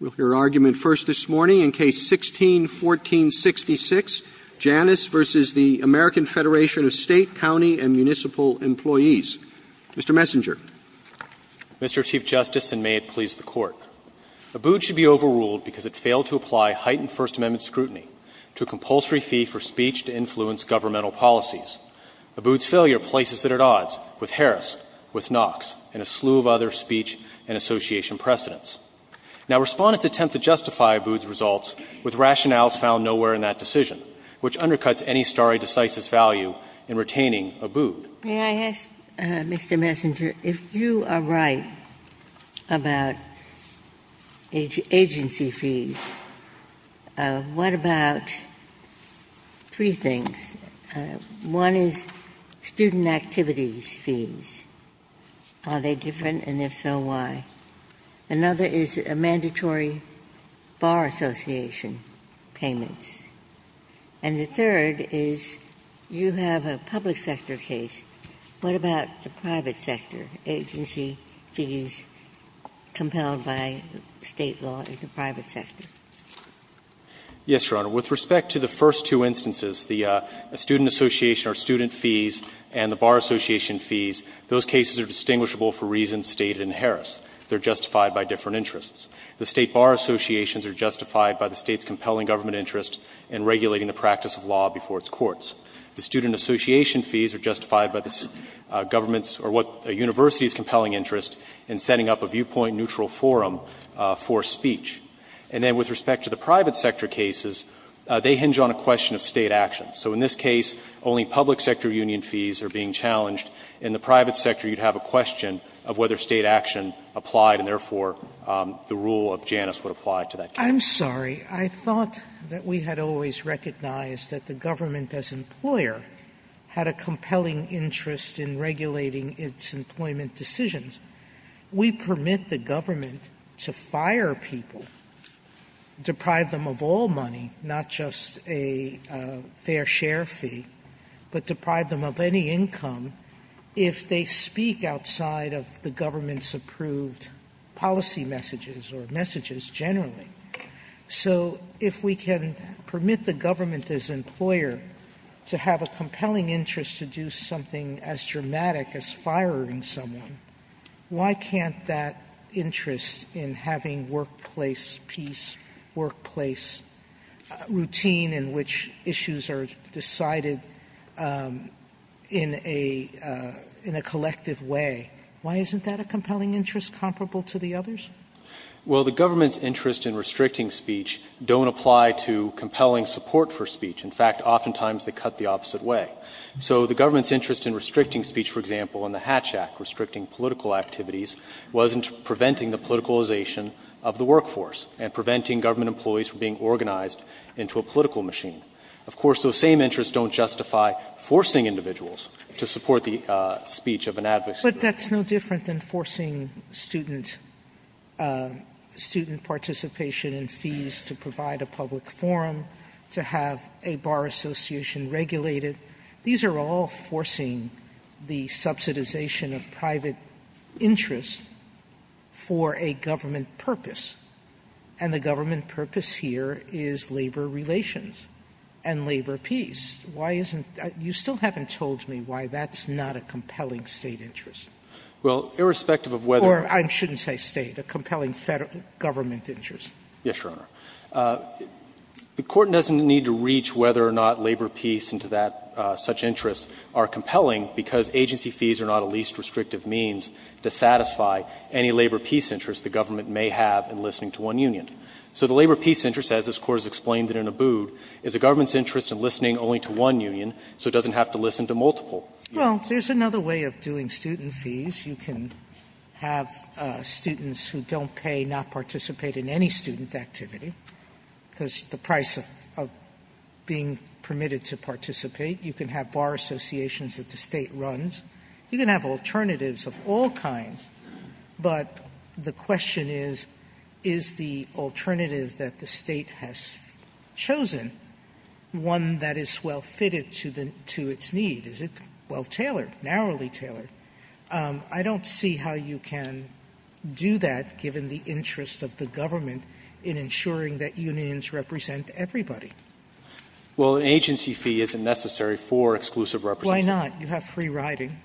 Mr. Chief Justice, and may it please the Court. Abood should be overruled because it failed to apply heightened First Amendment scrutiny to a compulsory fee for speech to influence governmental policies. Abood's failure places it at odds with Harris, with Knox, and a slew of other speech and association precedents. May I ask, Mr. Messenger, if you are right about agency fees, what about three things? One is student activities fees. Are they different? And if so, why? Another is mandatory bar association payments. And the third is you have a public sector case. What about the private sector agency fees compelled by State law in the private sector? Messenger Yes, Your Honor. With respect to the first two instances, the student association or student fees and the bar association fees, those cases are distinguishable for reasons stated in Harris. They are justified by different interests. The State bar associations are justified by the State's compelling government interest in regulating the practice of law before its courts. The student association fees are justified by the government's or what the university's compelling interest in setting up a viewpoint-neutral forum for speech. And then with respect to the private sector cases, they hinge on a question of State action. So in this case, only public sector union fees are being challenged. In the private sector, you would have a question of whether State action applied and, therefore, the rule of Janus would apply to that case. Sotomayor I'm sorry. I thought that we had always recognized that the government as employer had a compelling interest in regulating its employment decisions. We permit the government to fire people, deprive them of all money, not just a fair share fee, but deprive them of any income if they speak outside of the government's approved policy messages or messages generally. So if we can permit the government as employer to have a compelling interest to do something as dramatic as firing someone, why can't that interest in having workplace peace, workplace routine in which issues are decided in a collective way? Why isn't that a compelling interest comparable to the others? Well, the government's interest in restricting speech don't apply to compelling support for speech. In fact, oftentimes they cut the opposite way. So the government's interest in restricting speech, for example, in the Hatch Act, restricting political activities, wasn't preventing the politicalization of the workforce and preventing government employees from being organized into a political machine. Of course, those same interests don't justify forcing individuals to support the speech of an advocacy group. Sotomayor But that's no different than forcing student participation in fees to provide a public forum, to have a bar association regulate it. These are all forcing the subsidization of private interests for a government purpose, and the government purpose here is labor relations and labor peace. Why isn't that? You still haven't told me why that's not a compelling State interest. Well, irrespective of whether or not. Or I shouldn't say State, a compelling Federal government interest. Yes, Your Honor. The Court doesn't need to reach whether or not labor peace and to that such interests are compelling, because agency fees are not a least restrictive means to satisfy any labor peace interest the government may have in listening to one union. So the labor peace interest, as this Court has explained it in Abood, is a government's interest in listening only to one union, so it doesn't have to listen to multiple. Sotomayor Well, there's another way of doing student fees. You can have students who don't pay not participate in any student activity because of the price of being permitted to participate. You can have bar associations that the State runs. You can have alternatives of all kinds, but the question is, is the alternative that the State has chosen one that is well-fitted to its need? Is it well-tailored, narrowly tailored? I don't see how you can do that, given the interest of the government in ensuring that unions represent everybody. Well, an agency fee isn't necessary for exclusive representation. Sotomayor Why not? You have free riding.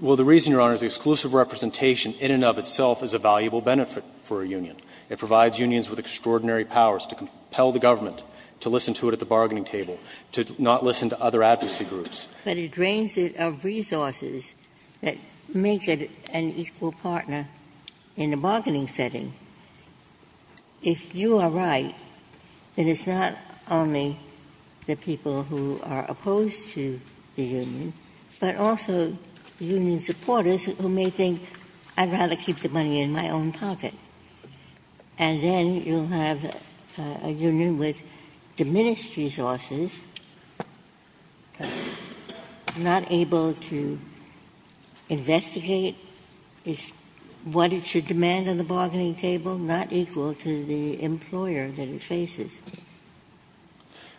Well, the reason, Your Honor, is exclusive representation in and of itself is a valuable benefit for a union. It provides unions with extraordinary powers to compel the government to listen to it at the bargaining table, to not listen to other advocacy groups. But it drains it of resources that make it an equal partner in the bargaining setting. If you are right, then it's not only the people who are opposed to the union, but also union supporters who may think, I'd rather keep the money in my own pocket. And then you'll have a union with diminished resources, not able to investigate what it should demand at the bargaining table, not equal to the employer that it faces.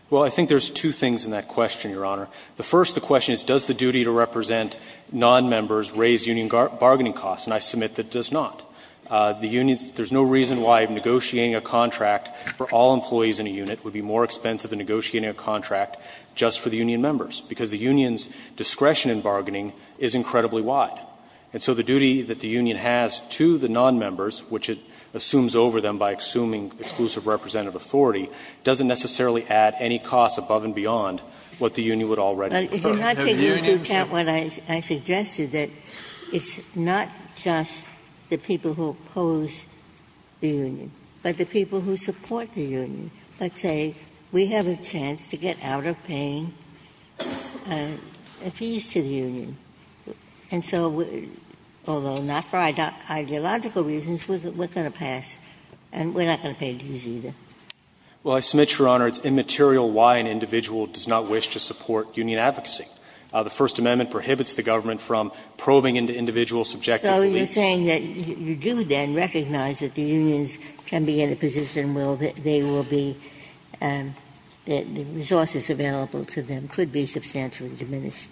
Well, I think there's two things in that question, Your Honor. The first, the question is, does the duty to represent nonmembers raise union bargaining costs? And I submit that it does not. The unions – there's no reason why negotiating a contract for all employees in a unit would be more expensive than negotiating a contract just for the union members, because the union's discretion in bargaining is incredibly wide. And so the duty that the union has to the nonmembers, which it assumes over them by assuming exclusive representative authority, doesn't necessarily add any costs above and beyond what the union would already prefer. But if you're not taking into account what I suggested, that it's not just the people who oppose the union, but the people who support the union. Let's say we have a chance to get out of paying fees to the union, and so, although not for ideological reasons, we're going to pass, and we're not going to pay dues either. Well, I submit, Your Honor, it's immaterial why an individual does not wish to support union advocacy. The First Amendment prohibits the government from probing into individual subjective beliefs. Ginsburg. So you're saying that you do, then, recognize that the unions can be in a position where they will be – the resources available to them could be substantially diminished.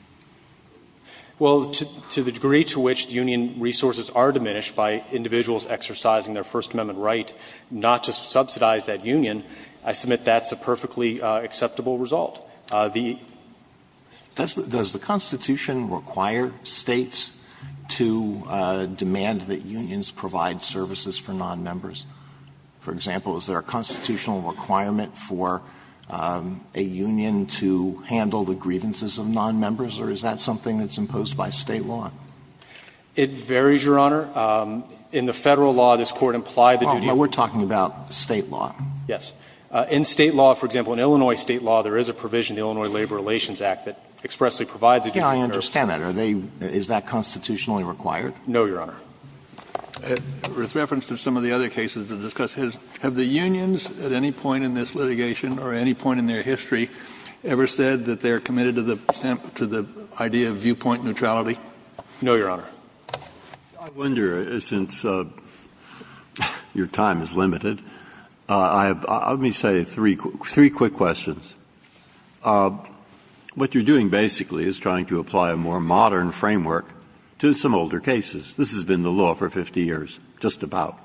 Well, to the degree to which the union resources are diminished by individuals exercising their First Amendment right not to subsidize that union, I submit that's a perfectly acceptable result. The – Does the Constitution require States to demand that unions provide services for non-members? For example, is there a constitutional requirement for a union to handle the grievances of non-members, or is that something that's imposed by State law? It varies, Your Honor. In the Federal law, this Court implied the duty of the State law. We're talking about State law. Yes. In State law, for example, in Illinois State law, there is a provision in the Illinois Labor Relations Act that expressly provides a union for service. Yeah, I understand that. Are they – is that constitutionally required? No, Your Honor. With reference to some of the other cases to discuss, have the unions at any point in this litigation or at any point in their history ever said that they're committed to the idea of viewpoint neutrality? No, Your Honor. I wonder, since your time is limited, I have – let me say three quick questions. What you're doing basically is trying to apply a more modern framework to some older cases. This has been the law for 50 years, just about.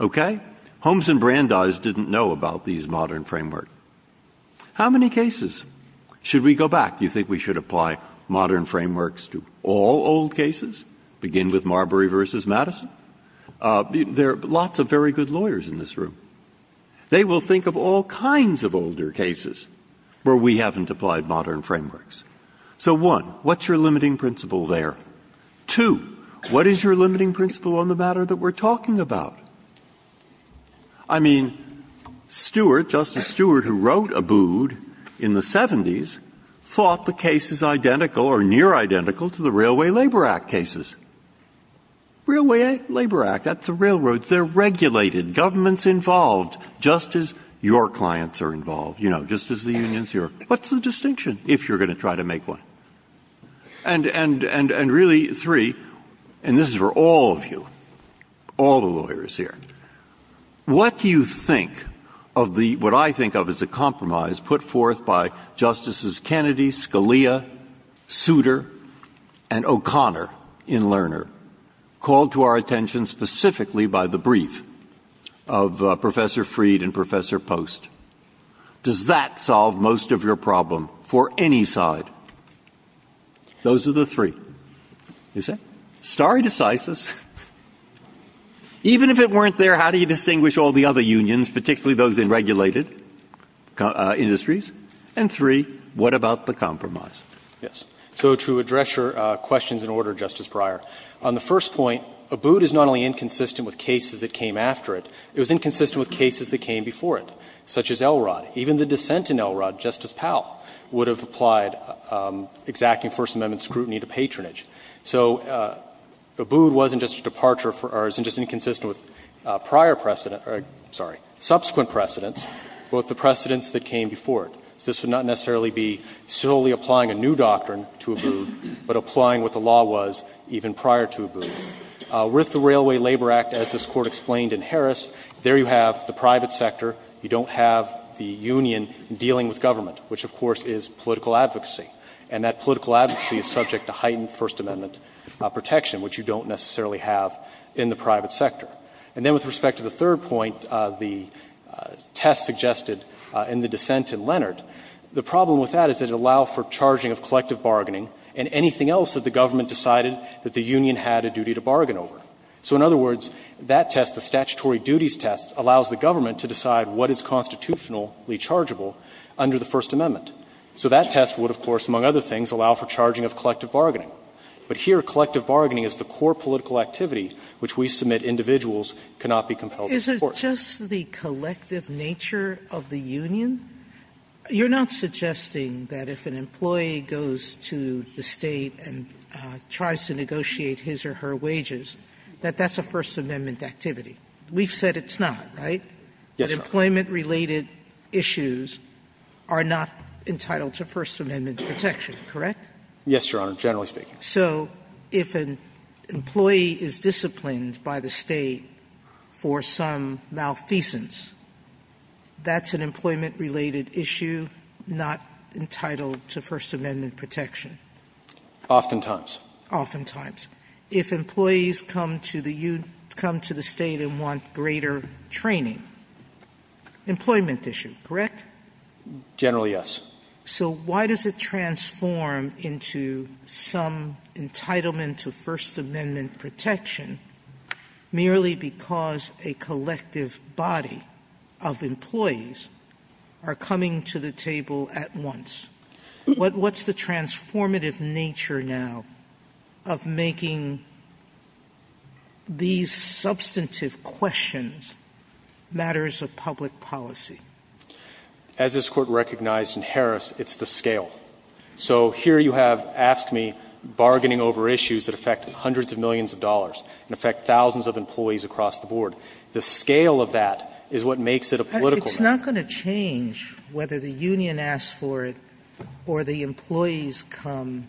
Okay? Holmes and Brandeis didn't know about these modern framework. How many cases should we go back? Do you think we should apply modern frameworks to all old cases, begin with Marbury v. Madison? There are lots of very good lawyers in this room. They will think of all kinds of older cases where we haven't applied modern frameworks. So, one, what's your limiting principle there? Two, what is your limiting principle on the matter that we're talking about? I mean, Stewart, Justice Stewart, who wrote Abood in the 70s, thought the case is identical or near identical to the Railway Labor Act cases. Railway Labor Act, that's the railroad. They're regulated. Government's involved, just as your clients are involved, you know, just as the unions are. What's the distinction, if you're going to try to make one? And really, three, and this is for all of you, all the lawyers here, what do you think of the, what I think of as a compromise put forth by Justices Kennedy, Scalia, Souter, and O'Connor in Lerner, called to our attention specifically by the brief of Professor Freed and Professor Post? Does that solve most of your problem for any side? Those are the three. You see? Stare decisis. Even if it weren't there, how do you distinguish all the other unions, particularly those in regulated industries? And three, what about the compromise? Yes. So to address your questions in order, Justice Breyer, on the first point, Abood is not only inconsistent with cases that came after it, it was inconsistent with cases that came before it. Such as Elrod. Even the dissent in Elrod, Justice Powell, would have applied exacting First Amendment scrutiny to patronage. So Abood wasn't just a departure for, or isn't just inconsistent with prior precedent or, sorry, subsequent precedents, but the precedents that came before it. So this would not necessarily be solely applying a new doctrine to Abood, but applying what the law was even prior to Abood. With the Railway Labor Act, as this Court explained in Harris, there you have the private sector, you don't have the union dealing with government, which, of course, is political advocacy. And that political advocacy is subject to heightened First Amendment protection, which you don't necessarily have in the private sector. And then with respect to the third point, the test suggested in the dissent in Leonard, the problem with that is that it allowed for charging of collective bargaining and anything else that the government decided that the union had a duty to bargain over. So in other words, that test, the statutory duties test, allows the government to decide what is constitutionally chargeable under the First Amendment. So that test would, of course, among other things, allow for charging of collective bargaining. But here, collective bargaining is the core political activity which we submit individuals cannot be compelled to support. Sotomayor, is it just the collective nature of the union? You're not suggesting that if an employee goes to the State and tries to negotiate his or her wages, that that's a First Amendment activity. We've said it's not, right? Yes, Your Honor. But employment-related issues are not entitled to First Amendment protection, correct? Yes, Your Honor, generally speaking. So if an employee is disciplined by the State for some malfeasance, that's an employment-related issue not entitled to First Amendment protection? Oftentimes. Oftentimes. If employees come to the State and want greater training. Employment issue, correct? Generally, yes. So why does it transform into some entitlement to First Amendment protection merely because a collective body of employees are coming to the table at once? What's the transformative nature now of making these substantive questions matters of public policy? As this Court recognized in Harris, it's the scale. So here you have asked me, bargaining over issues that affect hundreds of millions of dollars and affect thousands of employees across the board, the scale of that is what makes it a political matter. It's not going to change whether the union asks for it or the employees come.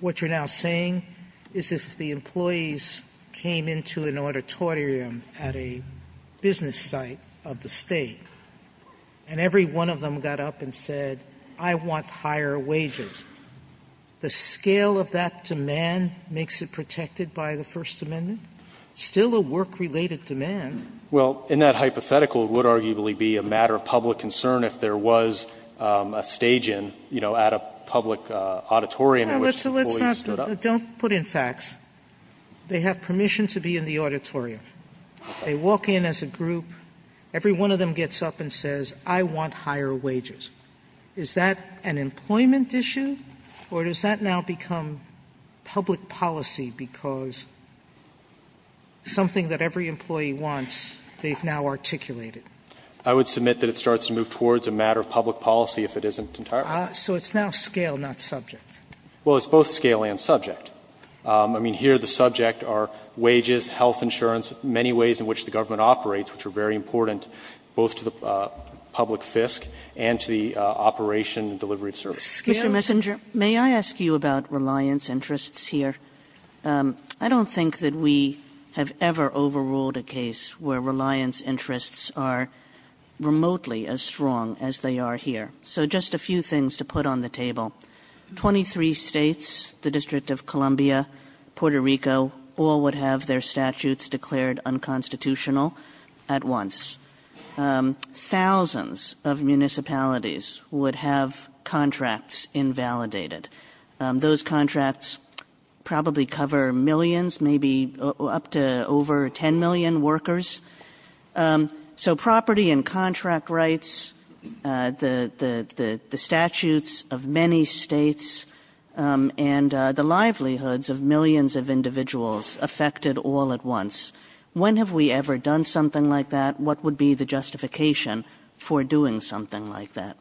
What you're now saying is if the employees came into an auditorium at a business site of the State and every one of them got up and said, I want higher wages, the scale of that demand makes it protected by the First Amendment? Still a work-related demand. Well, in that hypothetical, it would arguably be a matter of public concern if there was a stage-in, you know, at a public auditorium in which the employees stood up. Well, let's not put in facts. They have permission to be in the auditorium. They walk in as a group. Every one of them gets up and says, I want higher wages. Is that an employment issue or does that now become public policy because something that every employee wants, they've now articulated? I would submit that it starts to move towards a matter of public policy if it isn't entirely public. So it's now scale, not subject. Well, it's both scale and subject. I mean, here the subject are wages, health insurance, many ways in which the government operates, which are very important both to the public fisc and to the operation and delivery of services. Mr. Messenger, may I ask you about reliance interests here? I don't think that we have ever overruled a case where reliance interests are remotely as strong as they are here. So just a few things to put on the table. Twenty-three states, the District of Columbia, Puerto Rico, all would have their statutes declared unconstitutional at once. Thousands of municipalities would have contracts invalidated. Those contracts probably cover millions, maybe up to over 10 million workers. So property and contract rights, the statutes of many states, and the livelihoods of millions of individuals affected all at once. When have we ever done something like that? What would be the justification for doing something like that?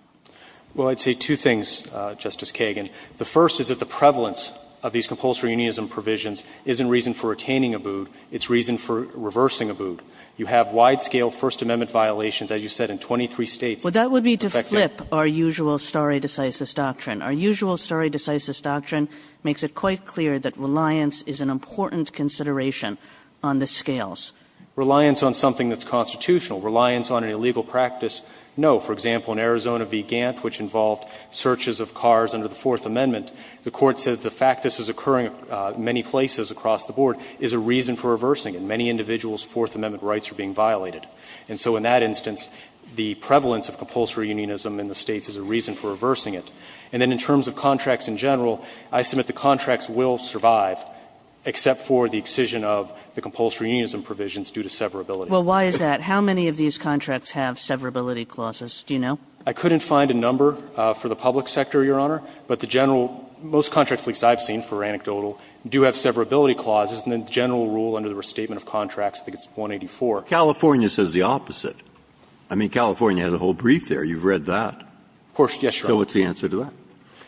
Well, I'd say two things, Justice Kagan. The first is that the prevalence of these compulsory unionism provisions isn't reason for retaining ABUD. It's reason for reversing ABUD. You have wide-scale First Amendment violations, as you said, in 23 states. Well, that would be to flip our usual stare decisis doctrine. Our usual stare decisis doctrine makes it quite clear that reliance is an important consideration on the scales. Reliance on something that's constitutional, reliance on an illegal practice, no. For example, in Arizona v. Gantt, which involved searches of cars under the Fourth Amendment, the Court said the fact this is occurring in many places across the board is a reason for reversing it. Many individuals' Fourth Amendment rights are being violated. And so in that instance, the prevalence of compulsory unionism in the states is a reason for reversing it. And then in terms of contracts in general, I submit the contracts will survive, except for the excision of the compulsory unionism provisions due to severability. Kagan. Well, why is that? How many of these contracts have severability clauses? Do you know? I couldn't find a number for the public sector, Your Honor. But the general – most contracts, at least I've seen, for anecdotal, do have severability clauses, and the general rule under the Restatement of Contracts, I think it's 184. California says the opposite. I mean, California has a whole brief there. You've read that. Of course, yes, Your Honor. So what's the answer to that?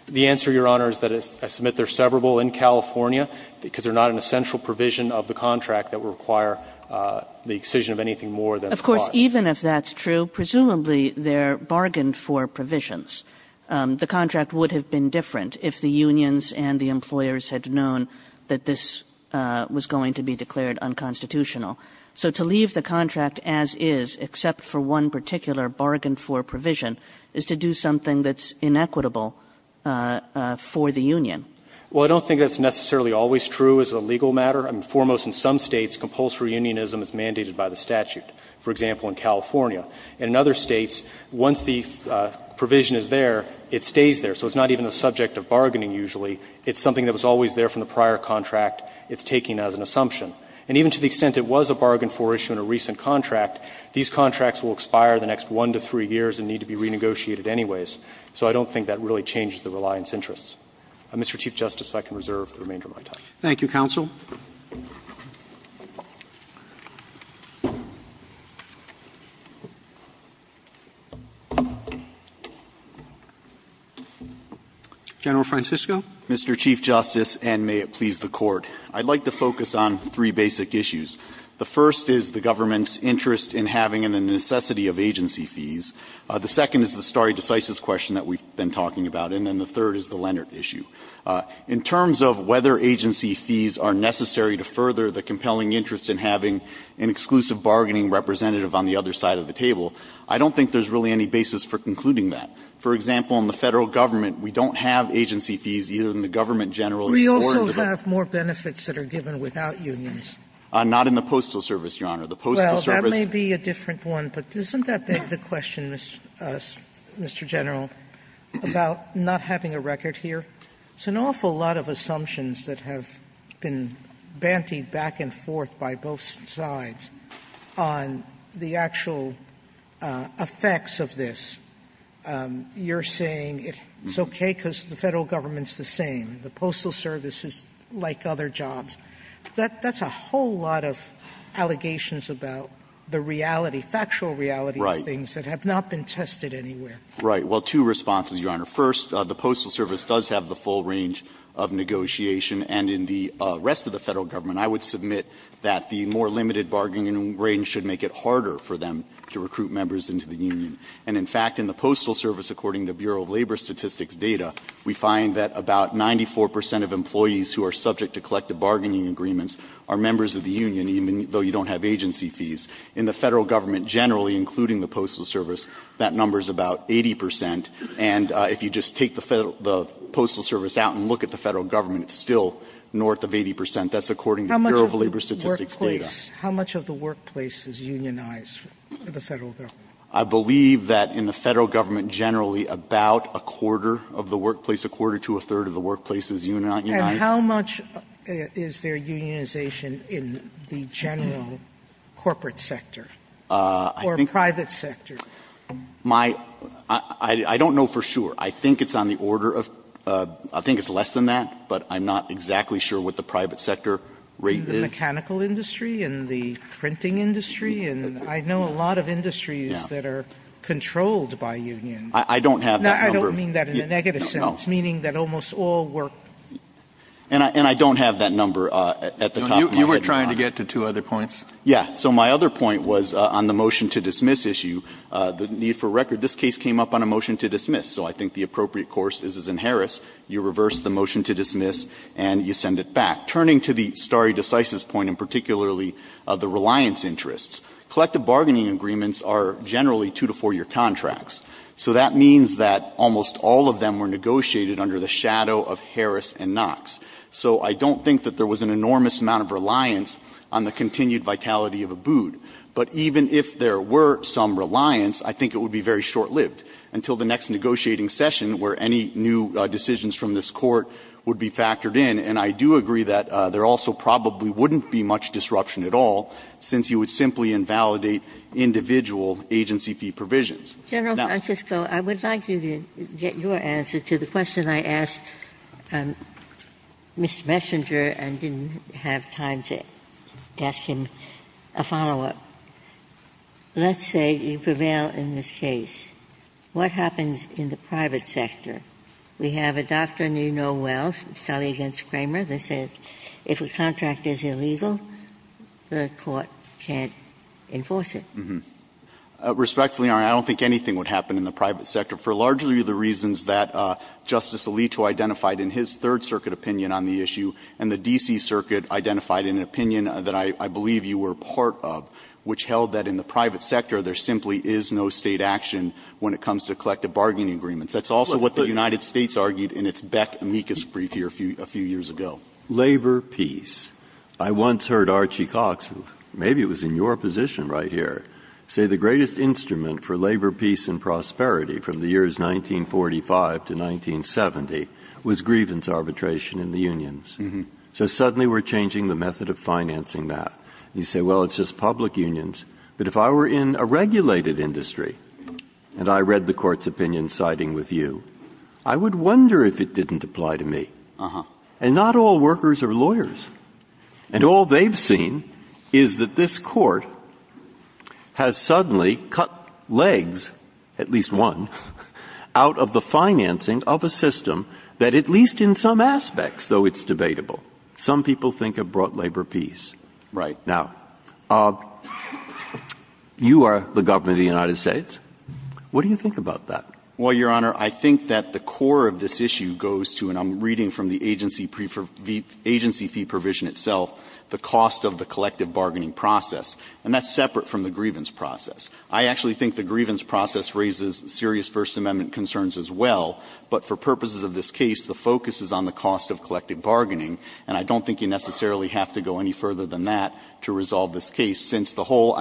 The answer, Your Honor, is that I submit they're severable in California, because they're not an essential provision of the contract that would require the excision of anything more than the clause. Kagan. Of course, even if that's true, presumably they're bargained for provisions. The contract would have been different if the unions and the employers had known that this was going to be declared unconstitutional. So to leave the contract as is, except for one particular bargained-for provision, is to do something that's inequitable for the union. Well, I don't think that's necessarily always true as a legal matter. I mean, foremost in some States, compulsory unionism is mandated by the statute. For example, in California. And in other States, once the provision is there, it stays there. So it's not even a subject of bargaining, usually. It's something that was always there from the prior contract. It's taken as an assumption. And even to the extent it was a bargained-for issue in a recent contract, these contracts will expire the next one to three years and need to be renegotiated anyways. So I don't think that really changes the reliance interests. Mr. Chief Justice, if I can reserve the remainder of my time. Roberts. Thank you, counsel. General Francisco. Mr. Chief Justice, and may it please the Court, I'd like to focus on three basic issues. The first is the government's interest in having the necessity of agency fees. The second is the stare decisis question that we've been talking about. And then the third is the Leonard issue. In terms of whether agency fees are necessary to further the compelling interest in having an exclusive bargaining representative on the other side of the table, I don't think there's really any basis for concluding that. For example, in the Federal Government, we don't have agency fees, either in the government, general, or the government. Sotomayor. We also have more benefits that are given without unions. Not in the Postal Service, Your Honor. The Postal Service. Well, that may be a different one, but isn't that the question, Mr. General, about not having a record here? It's an awful lot of assumptions that have been bantied back and forth by both sides on the actual effects of this. You're saying it's okay because the Federal Government's the same. The Postal Service is like other jobs. That's a whole lot of allegations about the reality, factual reality of things that have not been tested anywhere. Right. Well, two responses, Your Honor. First, the Postal Service does have the full range of negotiation. And in the rest of the Federal Government, I would submit that the more limited bargaining range should make it harder for them to recruit members into the union. And in fact, in the Postal Service, according to Bureau of Labor Statistics data, we find that about 94 percent of employees who are subject to collective bargaining agreements are members of the union, even though you don't have agency fees. In the Federal Government generally, including the Postal Service, that number is about 80 percent. And if you just take the Federal – the Postal Service out and look at the Federal Government, it's still north of 80 percent. That's according to Bureau of Labor Statistics data. Sotomayor, how much of the workplace is unionized in the Federal Government? I believe that in the Federal Government generally about a quarter of the workplace, a quarter to a third of the workplace is unionized. And how much is there unionization in the general corporate sector or private sector? My – I don't know for sure. I think it's on the order of – I think it's less than that, but I'm not exactly sure what the private sector rate is. In the mechanical industry, in the printing industry, and I know a lot of industries that are controlled by union. I don't have that number. No, I don't mean that in a negative sense, meaning that almost all work. And I don't have that number at the top of my head. You were trying to get to two other points? Yeah. So my other point was on the motion to dismiss issue. The need for record, this case came up on a motion to dismiss. So I think the appropriate course is as in Harris, you reverse the motion to dismiss and you send it back. Turning to the stare decisis point and particularly the reliance interests, collective bargaining agreements are generally two- to four-year contracts. So that means that almost all of them were negotiated under the shadow of Harris and Knox. So I don't think that there was an enormous amount of reliance on the continued vitality of Abood. But even if there were some reliance, I think it would be very short-lived until the next negotiating session where any new decisions from this Court would be factored in. And I do agree that there also probably wouldn't be much disruption at all, since you would simply invalidate individual agency fee provisions. Ginsburg. General Francisco, I would like you to get your answer to the question I asked Mr. Messenger and didn't have time to ask him a follow-up. Let's say you prevail in this case. What happens in the private sector? We have a doctrine you know well, Shelley v. Kramer, that says if a contract is illegal, the Court can't enforce it. Respectfully, Your Honor, I don't think anything would happen in the private sector for largely the reasons that Justice Alito identified in his Third Circuit opinion on the issue, and the D.C. Circuit identified in an opinion that I believe you were part of, which held that in the private sector there simply is no State action when it comes to collective bargaining agreements. That's also what the United States argued in its Beck-Amicus brief here a few years ago. Labor, peace. I once heard Archie Cox, maybe it was in your position right here, say the greatest instrument for labor, peace, and prosperity from the years 1945 to 1970 was grievance arbitration in the unions. So suddenly we're changing the method of financing that. You say, well, it's just public unions. But if I were in a regulated industry, and I read the Court's opinion siding with you, I would wonder if it didn't apply to me. And not all workers are lawyers. And all they've seen is that this Court has suddenly cut legs, at least one, out of the financing of a system that at least in some aspects, though it's debatable, some people think have brought labor peace. Right. Now, you are the government of the United States. What do you think about that? Well, Your Honor, I think that the core of this issue goes to, and I'm reading from the agency fee provision itself, the cost of the collective bargaining process. And that's separate from the grievance process. I actually think the grievance process raises serious First Amendment concerns as well. But for purposes of this case, the focus is on the cost of collective bargaining. And I don't think you necessarily have to go any further than that to resolve this case, since the whole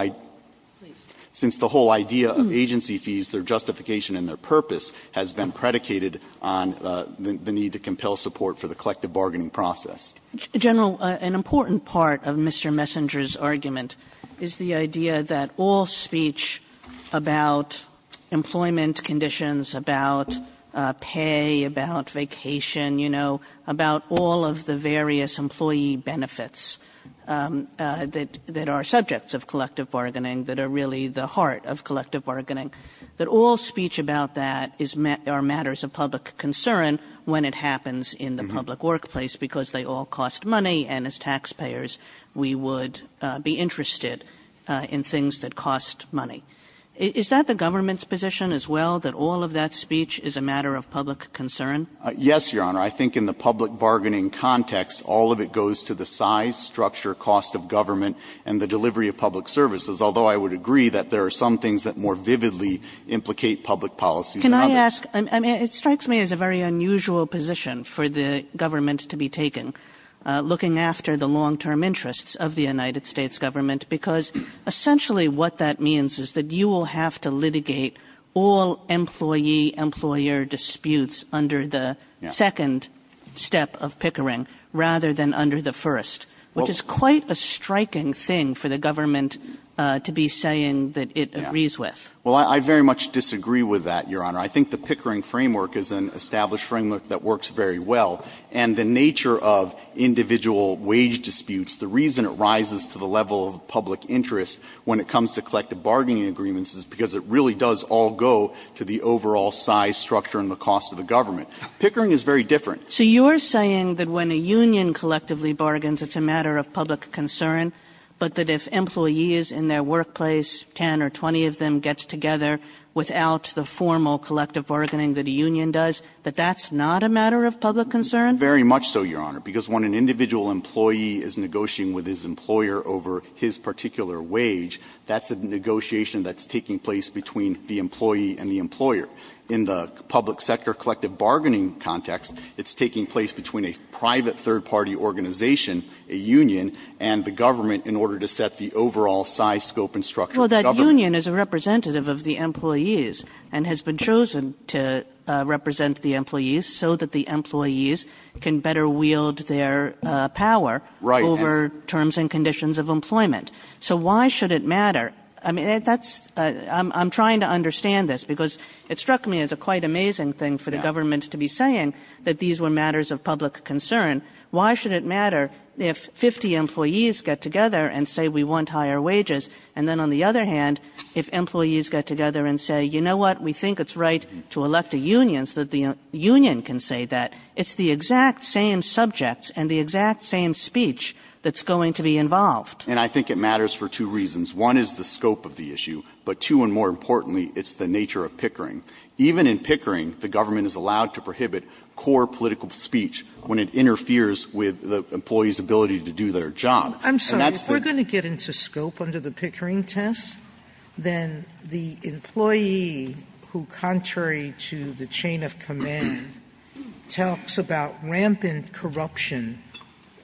idea of agency fees, their justification and their purpose has been predicated on the need to compel support for the collective bargaining process. General, an important part of Mr. Messenger's argument is the idea that all speech about employment conditions, about pay, about vacation, you know, about all of the various employee benefits that are subjects of collective bargaining that are really the heart of collective bargaining. That all speech about that is or matters of public concern when it happens in the public workplace, because they all cost money, and as taxpayers, we would be interested in things that cost money. Is that the government's position as well, that all of that speech is a matter of public concern? Yes, Your Honor. I think in the public bargaining context, all of it goes to the size, structure, cost of government, and the delivery of public services, although I would agree that there are some things that more vividly implicate public policy than others. Can I ask? I mean, it strikes me as a very unusual position for the government to be taking, looking after the long-term interests of the United States government, because essentially what that means is that you will have to litigate all employee-employer disputes under the second step of Pickering rather than under the first, which is Well, I very much disagree with that, Your Honor. I think the Pickering framework is an established framework that works very well. And the nature of individual wage disputes, the reason it rises to the level of public interest when it comes to collective bargaining agreements is because it really does all go to the overall size, structure, and the cost of the government. Pickering is very different. So you're saying that when a union collectively bargains, it's a matter of public concern, but that if employees in their workplace, 10 or 20 of them, gets together without the formal collective bargaining that a union does, that that's not a matter of public concern? Very much so, Your Honor, because when an individual employee is negotiating with his employer over his particular wage, that's a negotiation that's taking place between the employee and the employer. In the public sector collective bargaining context, it's taking place between a private third-party organization, a union, and the government in order to set the overall size, scope, and structure of the government. Well, that union is a representative of the employees and has been chosen to represent the employees so that the employees can better wield their power over terms and conditions of employment. So why should it matter? I mean, that's — I'm trying to understand this, because it struck me as a quite amazing thing for the government to be saying that these were matters of public concern. Why should it matter if 50 employees get together and say, we want higher wages? And then on the other hand, if employees get together and say, you know what, we think it's right to elect a union so that the union can say that, it's the exact same subjects and the exact same speech that's going to be involved. And I think it matters for two reasons. One is the scope of the issue, but two, and more importantly, it's the nature of pickering. Even in pickering, the government is allowed to prohibit core political speech when it interferes with the employee's ability to do their job. And that's the — Sotomayor, we're going to get into scope under the pickering test. Then the employee who, contrary to the chain of command, talks about rampant corruption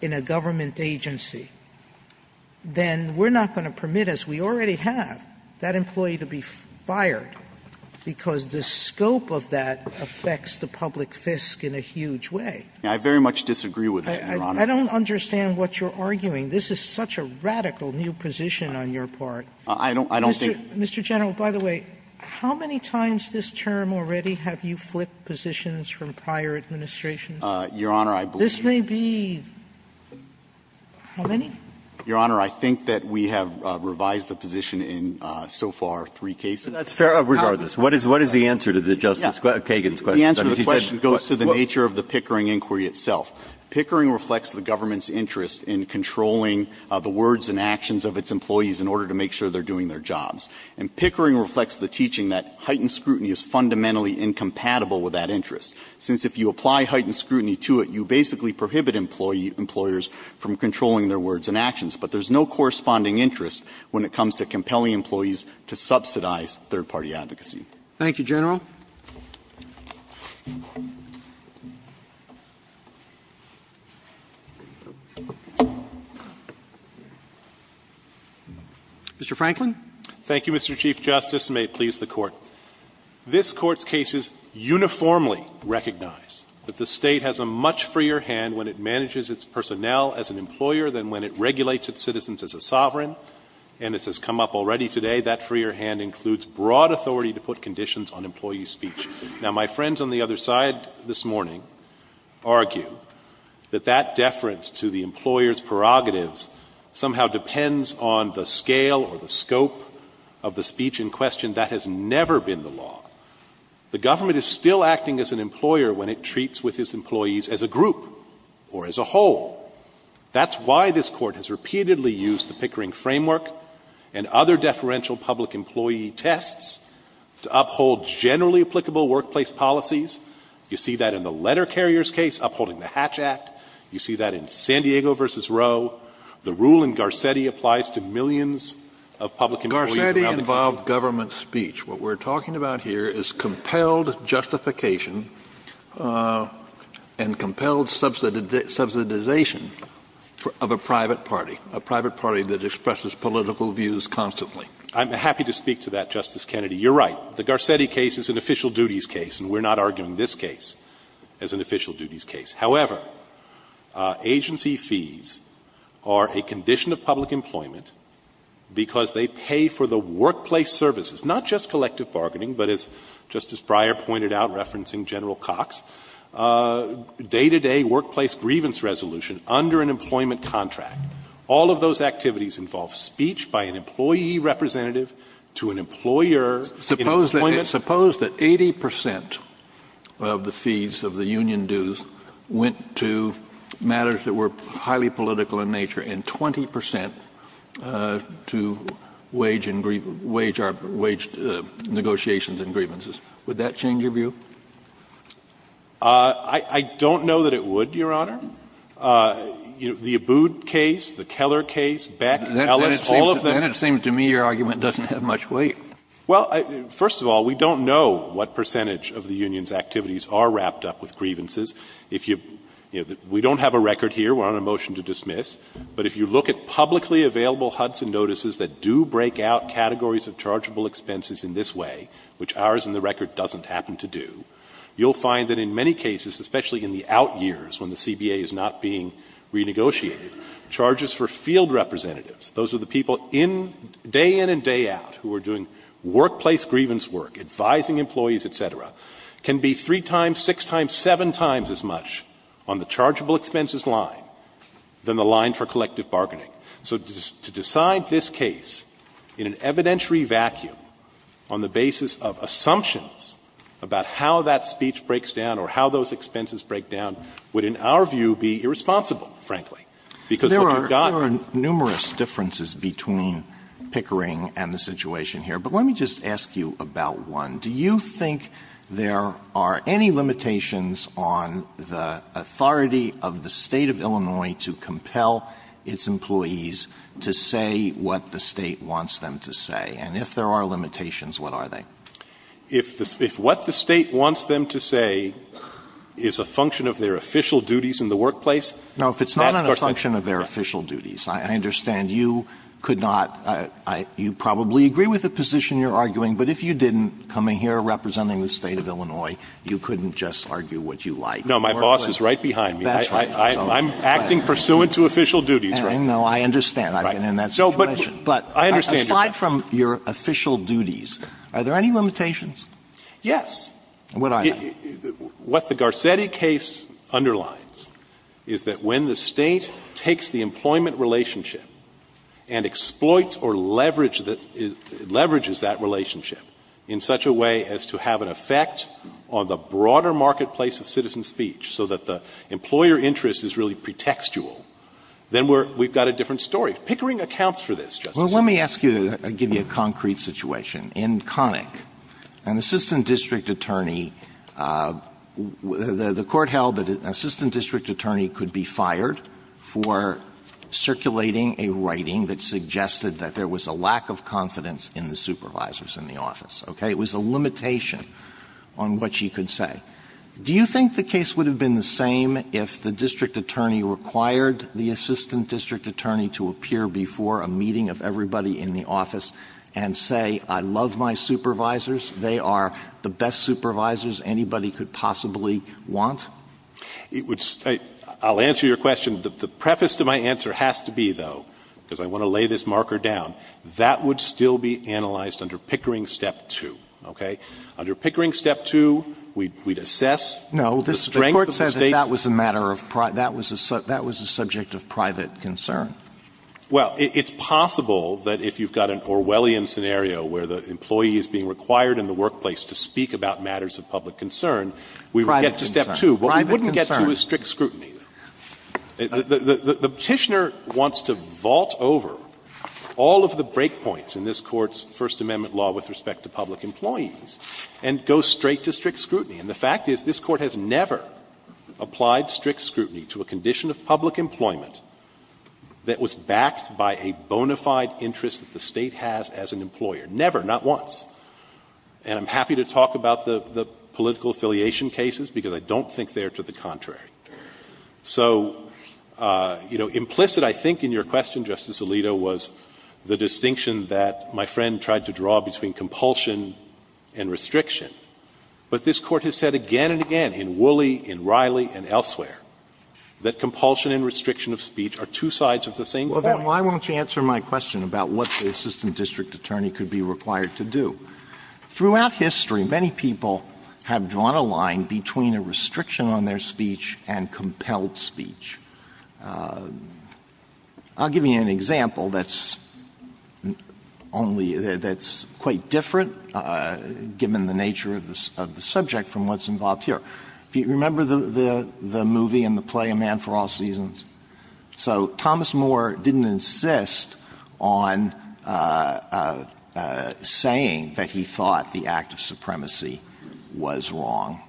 in a government agency, then we're not going to permit, as we already have, that kind of thing. So the scope of that affects the public fisc in a huge way. I very much disagree with that, Your Honor. I don't understand what you're arguing. This is such a radical new position on your part. I don't think — Mr. General, by the way, how many times this term already have you flipped positions from prior administrations? Your Honor, I believe — This may be — how many? Your Honor, I think that we have revised the position in so far three cases. That's fair, regardless. What is the answer to the Justice Kagan's question? The answer to the question goes to the nature of the pickering inquiry itself. Pickering reflects the government's interest in controlling the words and actions of its employees in order to make sure they're doing their jobs. And pickering reflects the teaching that heightened scrutiny is fundamentally incompatible with that interest, since if you apply heightened scrutiny to it, you basically prohibit employers from controlling their words and actions. But there's no corresponding interest when it comes to compelling employees to subsidize third-party advocacy. Thank you, General. Mr. Franklin. Thank you, Mr. Chief Justice, and may it please the Court. This Court's case is uniformly recognized that the State has a much freer hand when it manages its personnel as an employer than when it regulates its citizens as a sovereign, and as has come up already today, that freer hand includes broad authority to put conditions on employee speech. Now, my friends on the other side this morning argue that that deference to the employer's prerogatives somehow depends on the scale or the scope of the speech in question. That has never been the law. The government is still acting as an employer when it treats with its employees as a group or as a whole. That's why this Court has repeatedly used the pickering framework and other deferential public employee tests to uphold generally applicable workplace policies. You see that in the letter carrier's case upholding the Hatch Act. You see that in San Diego v. Roe. The rule in Garcetti applies to millions of public employees around the country. Garcetti involved government speech. What we're talking about here is compelled justification and compelled subsidization of a private party, a private party that expresses political views constantly. I'm happy to speak to that, Justice Kennedy. You're right. The Garcetti case is an official duties case, and we're not arguing this case as an official duties case. However, agency fees are a condition of public employment because they pay for the workplace services, not just collective bargaining, but as Justice Breyer pointed out referencing General Cox, day-to-day workplace grievance resolution under an employment contract. All of those activities involve speech by an employee representative to an employer in employment. Kennedy, suppose that 80 percent of the fees of the union dues went to matters that were highly political in nature and 20 percent to wage and grieve — wage negotiations and grievances. Would that change your view? I don't know that it would, Your Honor. The Abboud case, the Keller case, Beck, Ellis, all of them. Then it seems to me your argument doesn't have much weight. Well, first of all, we don't know what percentage of the union's activities are wrapped up with grievances. If you — we don't have a record here. We're on a motion to dismiss. But if you look at publicly available Hudson notices that do break out categories of chargeable expenses in this way, which ours in the record doesn't happen to do, you'll find that in many cases, especially in the out years when the CBA is not being renegotiated, charges for field representatives, those are the people in — day in and day out who are doing workplace grievance work, advising employees, et cetera, can be three times, six times, seven times as much on the chargeable expenses line than the line for collective bargaining. So to decide this case in an evidentiary vacuum on the basis of assumptions about how that speech breaks down or how those expenses break down would, in our view, be irresponsible, frankly, because what you've got are — Alito, there are numerous differences between Pickering and the situation here. But let me just ask you about one. Do you think there are any limitations on the authority of the State of Illinois to compel its employees to say what the State wants them to say? And if there are limitations, what are they? If what the State wants them to say is a function of their official duties in the workplace — No, if it's not a function of their official duties, I understand you could not — you probably agree with the position you're arguing, but if you didn't, coming here representing the State of Illinois, you couldn't just argue what you like. No, my boss is right behind me. That's right. I'm acting pursuant to official duties, right? No, I understand. I've been in that situation. But aside from your official duties, are there any limitations? Yes. What I have. What the Garcetti case underlines is that when the State takes the employment relationship and exploits or leverages that relationship in such a way as to have an effect on the broader marketplace of citizen speech so that the employer interest is really pretextual, then we've got a different story. Pickering accounts for this, Justice Sotomayor. Well, let me ask you to give you a concrete situation. In Connick, an assistant district attorney, the Court held that an assistant district attorney could be fired for circulating a writing that suggested that there was a lack of confidence in the supervisors in the office, okay? It was a limitation on what she could say. Do you think the case would have been the same if the district attorney required the assistant district attorney to appear before a meeting of everybody in the office and say, I love my supervisors, they are the best supervisors anybody could possibly want? It would stay – I'll answer your question. The preface to my answer has to be, though, because I want to lay this marker down, that would still be analyzed under Pickering Step 2, okay? Under Pickering Step 2, we'd assess the strength of the State's – No. The Court says that that was a matter of – that was a subject of private concern. Well, it's possible that if you've got an Orwellian scenario where the employee is being required in the workplace to speak about matters of public concern, we would get to Step 2. What we wouldn't get to is strict scrutiny. The Petitioner wants to vault over all of the breakpoints in this Court's First Amendment law with respect to public employees and go straight to strict scrutiny. And the fact is this Court has never applied strict scrutiny to a condition of public employment that was backed by a bona fide interest that the State has as an employer. Never, not once. And I'm happy to talk about the political affiliation cases, because I don't think they are to the contrary. So, you know, implicit, I think, in your question, Justice Alito, was the distinction that my friend tried to draw between compulsion and restriction. But this Court has said again and again in Woolley, in Riley, and elsewhere, that compulsion and restriction of speech are two sides of the same coin. Alito, why won't you answer my question about what the assistant district attorney could be required to do? Throughout history, many people have drawn a line between a restriction on their speech and compelled speech. I'll give you an example that's only – that's quite different, given the nature of the subject, from what's involved here. Remember the movie in the play A Man for All Seasons? So Thomas More didn't insist on saying that he thought the act of supremacy was wrong.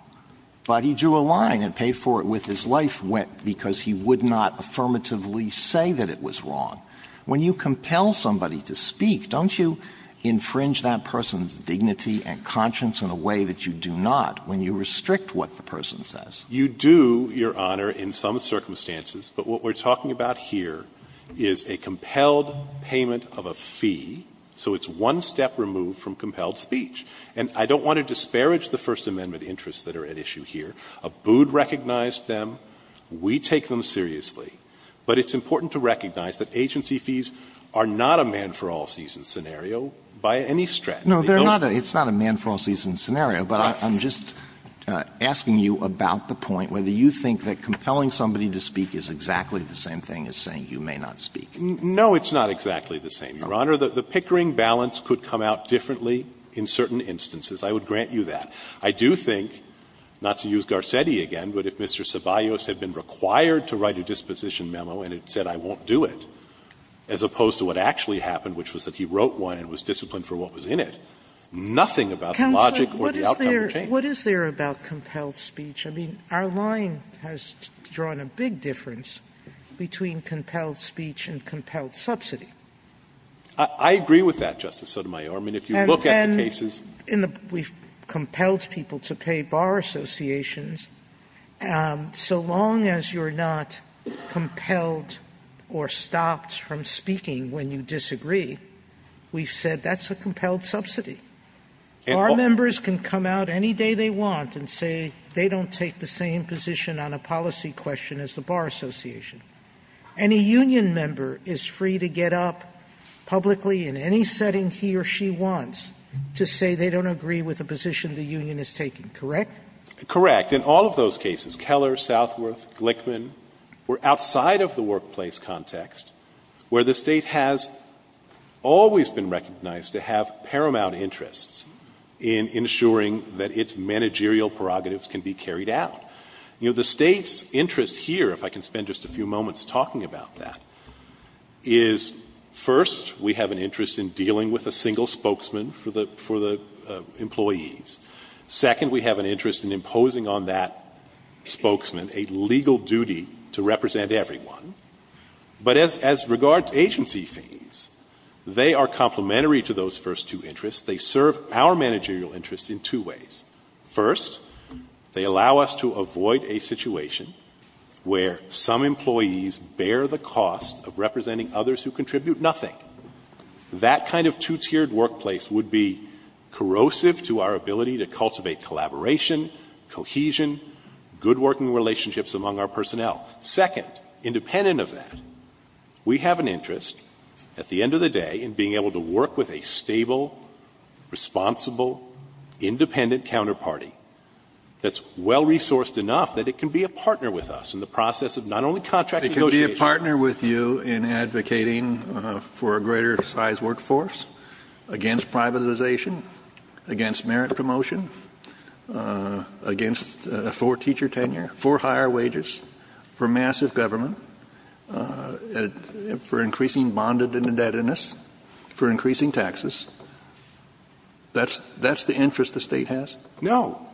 But he drew a line and paid for it with his life because he would not affirmatively say that it was wrong. When you compel somebody to speak, don't you infringe that person's dignity and conscience in a way that you do not? When you restrict what the person says. You do, Your Honor, in some circumstances. But what we're talking about here is a compelled payment of a fee, so it's one step removed from compelled speech. And I don't want to disparage the First Amendment interests that are at issue here. Abood recognized them. We take them seriously. But it's important to recognize that agency fees are not a man-for-all-seasons scenario by any stretch. Alito, it's not a man-for-all-seasons scenario, but I'm just asking you about the point, whether you think that compelling somebody to speak is exactly the same thing as saying you may not speak. No, it's not exactly the same, Your Honor. The pickering balance could come out differently in certain instances. I would grant you that. I do think, not to use Garcetti again, but if Mr. Ceballos had been required to write a disposition memo and it said, I won't do it, as opposed to what actually for what was in it, nothing about the logic or the outcome would change. Counsel, what is there about compelled speech? I mean, our line has drawn a big difference between compelled speech and compelled subsidy. I agree with that, Justice Sotomayor. I mean, if you look at the cases. And then we've compelled people to pay bar associations. So long as you're not compelled or stopped from speaking when you disagree, we've said that's a compelled subsidy. Bar members can come out any day they want and say they don't take the same position on a policy question as the bar association. Any union member is free to get up publicly in any setting he or she wants to say they don't agree with the position the union is taking, correct? Correct. In all of those cases, Keller, Southworth, Glickman, were outside of the workplace context, where the State has always been recognized to have paramount interests in ensuring that its managerial prerogatives can be carried out. You know, the State's interest here, if I can spend just a few moments talking about that, is first, we have an interest in dealing with a single spokesman for the employees. Second, we have an interest in imposing on that spokesman a legal duty to represent everyone. But as regards agency fees, they are complementary to those first two interests. They serve our managerial interests in two ways. First, they allow us to avoid a situation where some employees bear the cost of representing others who contribute nothing. That kind of two-tiered workplace would be corrosive to our ability to cultivate collaboration, cohesion, good working relationships among our personnel. Second, independent of that, we have an interest, at the end of the day, in being able to work with a stable, responsible, independent counterparty that's well-resourced enough that it can be a partner with us in the process of not only contract negotiation. It can be a partner with you in advocating for a greater size workforce, against privatization, against merit promotion, against for teacher tenure, for higher wages, for massive government, for increasing bondage and indebtedness, for increasing taxes. That's the interest the State has? No.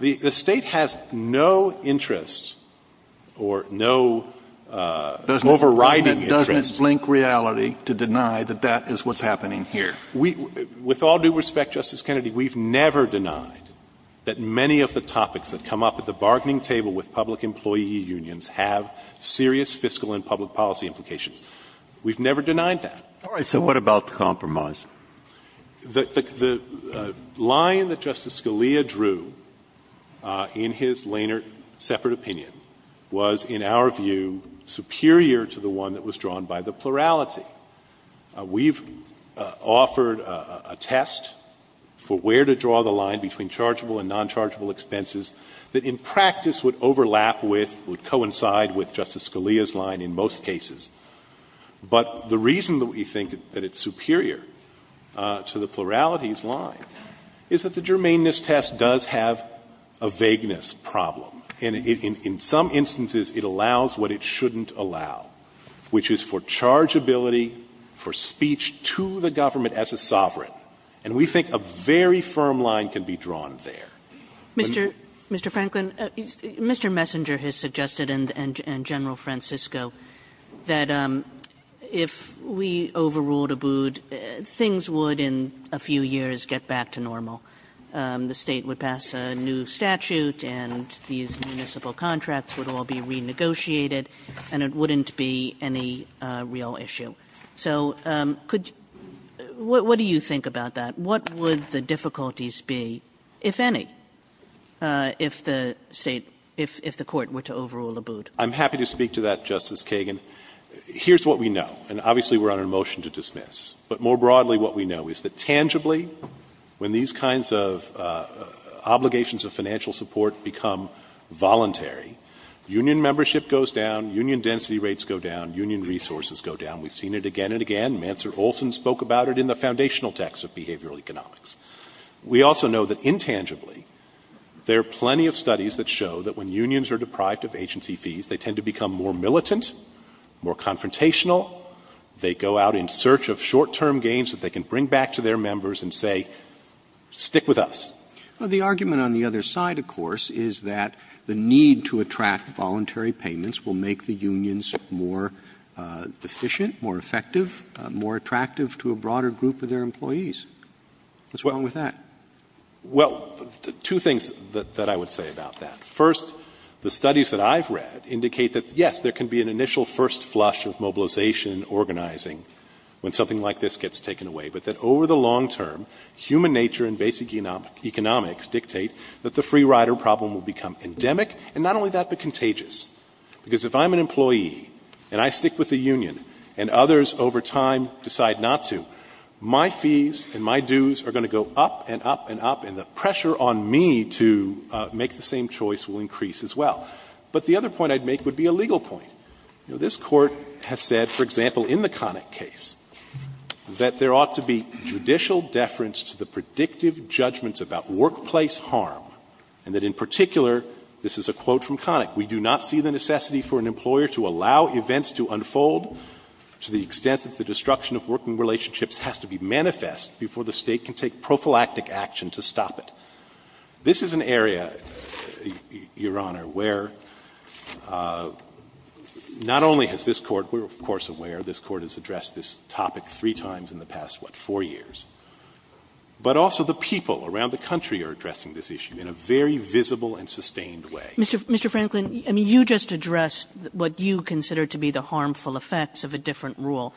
The State has no interest or no overriding interest. Doesn't it blink reality to deny that that is what's happening here? With all due respect, Justice Kennedy, we've never denied that many of the topics that come up at the bargaining table with public employee unions have serious fiscal and public policy implications. We've never denied that. All right. So what about the compromise? The line that Justice Scalia drew in his Lehnert separate opinion was, in our view, superior to the one that was drawn by the plurality. We've offered a test for where to draw the line between chargeable and nonchargeable expenses that in practice would overlap with, would coincide with Justice Scalia's line in most cases. But the reason that we think that it's superior to the plurality's line is that the germaneness test does have a vagueness problem. In some instances, it allows what it shouldn't allow, which is for chargeability, for speech to the government as a sovereign. And we think a very firm line can be drawn there. Mr. Franklin, Mr. Messenger has suggested and General Francisco that if we overruled Abood, things would in a few years get back to normal. The State would pass a new statute and these municipal contracts would all be renegotiated and it wouldn't be any real issue. So could you – what do you think about that? What would the difficulties be, if any? If the State – if the Court were to overrule Abood? I'm happy to speak to that, Justice Kagan. Here's what we know, and obviously we're on a motion to dismiss. But more broadly, what we know is that tangibly, when these kinds of obligations of financial support become voluntary, union membership goes down, union density rates go down, union resources go down. We've seen it again and again. Mansour Olson spoke about it in the foundational text of behavioral economics. We also know that intangibly, there are plenty of studies that show that when unions are deprived of agency fees, they tend to become more militant, more confrontational, they go out in search of short-term gains that they can bring back to their members and say, stick with us. Well, the argument on the other side, of course, is that the need to attract voluntary payments will make the unions more efficient, more effective, more attractive to a broader group of their employees. What's wrong with that? Well, two things that I would say about that. First, the studies that I've read indicate that, yes, there can be an initial first flush of mobilization and organizing when something like this gets taken away, but that over the long term, human nature and basic economics dictate that the free rider problem will become endemic, and not only that, but contagious. Because if I'm an employee and I stick with the union and others over time decide not to, my fees and my dues are going to go up and up and up, and the pressure on me to make the same choice will increase as well. But the other point I'd make would be a legal point. This Court has said, for example, in the Connick case, that there ought to be judicial deference to the predictive judgments about workplace harm, and that in particular this is a quote from Connick, This is an area, Your Honor, where not only has this Court been, of course, aware, this Court has addressed this topic three times in the past, what, four years, but also the people around the country are addressing this issue in a very visible and sustained way. Kagan. Kagan. Mr. Franklin, I mean, you just addressed what you consider to be the harmful effects of a different rule,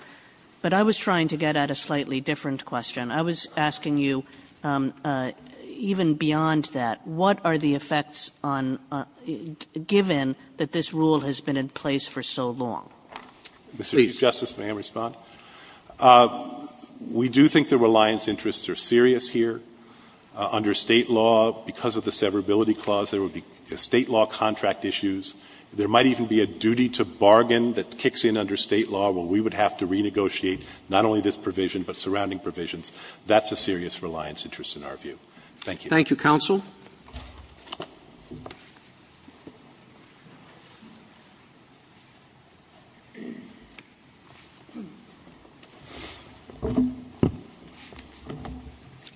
but I was trying to get at a slightly different question. I was asking you, even beyond that, what are the effects on, given that this rule has been in place for so long? Please. Franklin, we do think the reliance interests are serious here. Under State law, because of the severability clause, there would be State law contract issues. There might even be a duty to bargain that kicks in under State law where we would have to renegotiate not only this provision, but surrounding provisions. That's a serious reliance interest in our view. Thank you. Roberts. Thank you, counsel.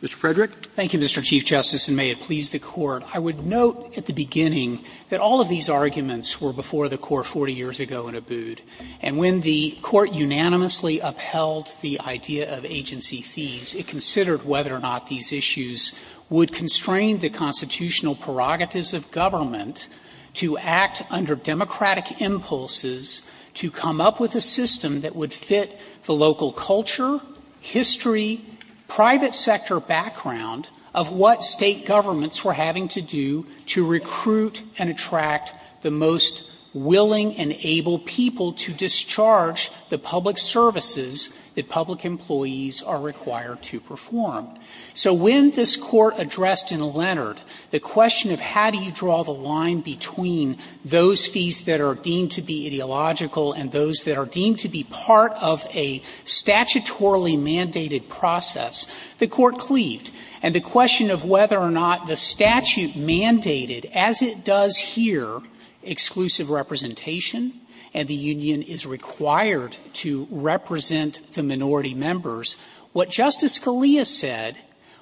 Mr. Frederick. Thank you, Mr. Chief Justice, and may it please the Court. I would note at the beginning that all of these arguments were before the Court 40 years ago in Abood, and when the Court unanimously upheld the idea of agency fees, it considered whether or not these issues would constrain the constitutional prerogatives of government to act under democratic impulses to come up with a system that would fit the local culture, history, private sector background of what State governments were having to do to recruit and attract the most willing and able people to discharge the public services that public employees are required to perform. So when this Court addressed in Leonard the question of how do you draw the line between those fees that are deemed to be ideological and those that are deemed to be part of a statutorily mandated process, the Court cleaved. And the question of whether or not the statute mandated, as it does here, exclusive representation and the union is required to represent the minority members, what Justice Scalia said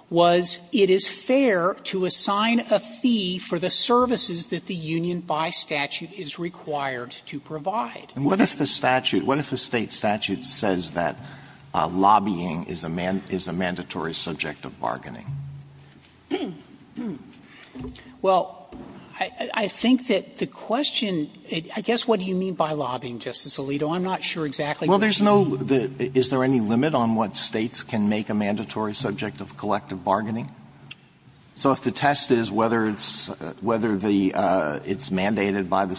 was it is fair to assign a fee for the services that the union by statute is required to provide. And what if the statute, what if the State statute says that lobbying is a mandatory subject of bargaining? Sotomayor Well, I think that the question, I guess, what do you mean by lobbying, Justice Alito? I'm not sure exactly what you mean. Alito Is there any limit on what States can make a mandatory subject of collective bargaining? So if the test is whether it's mandated by the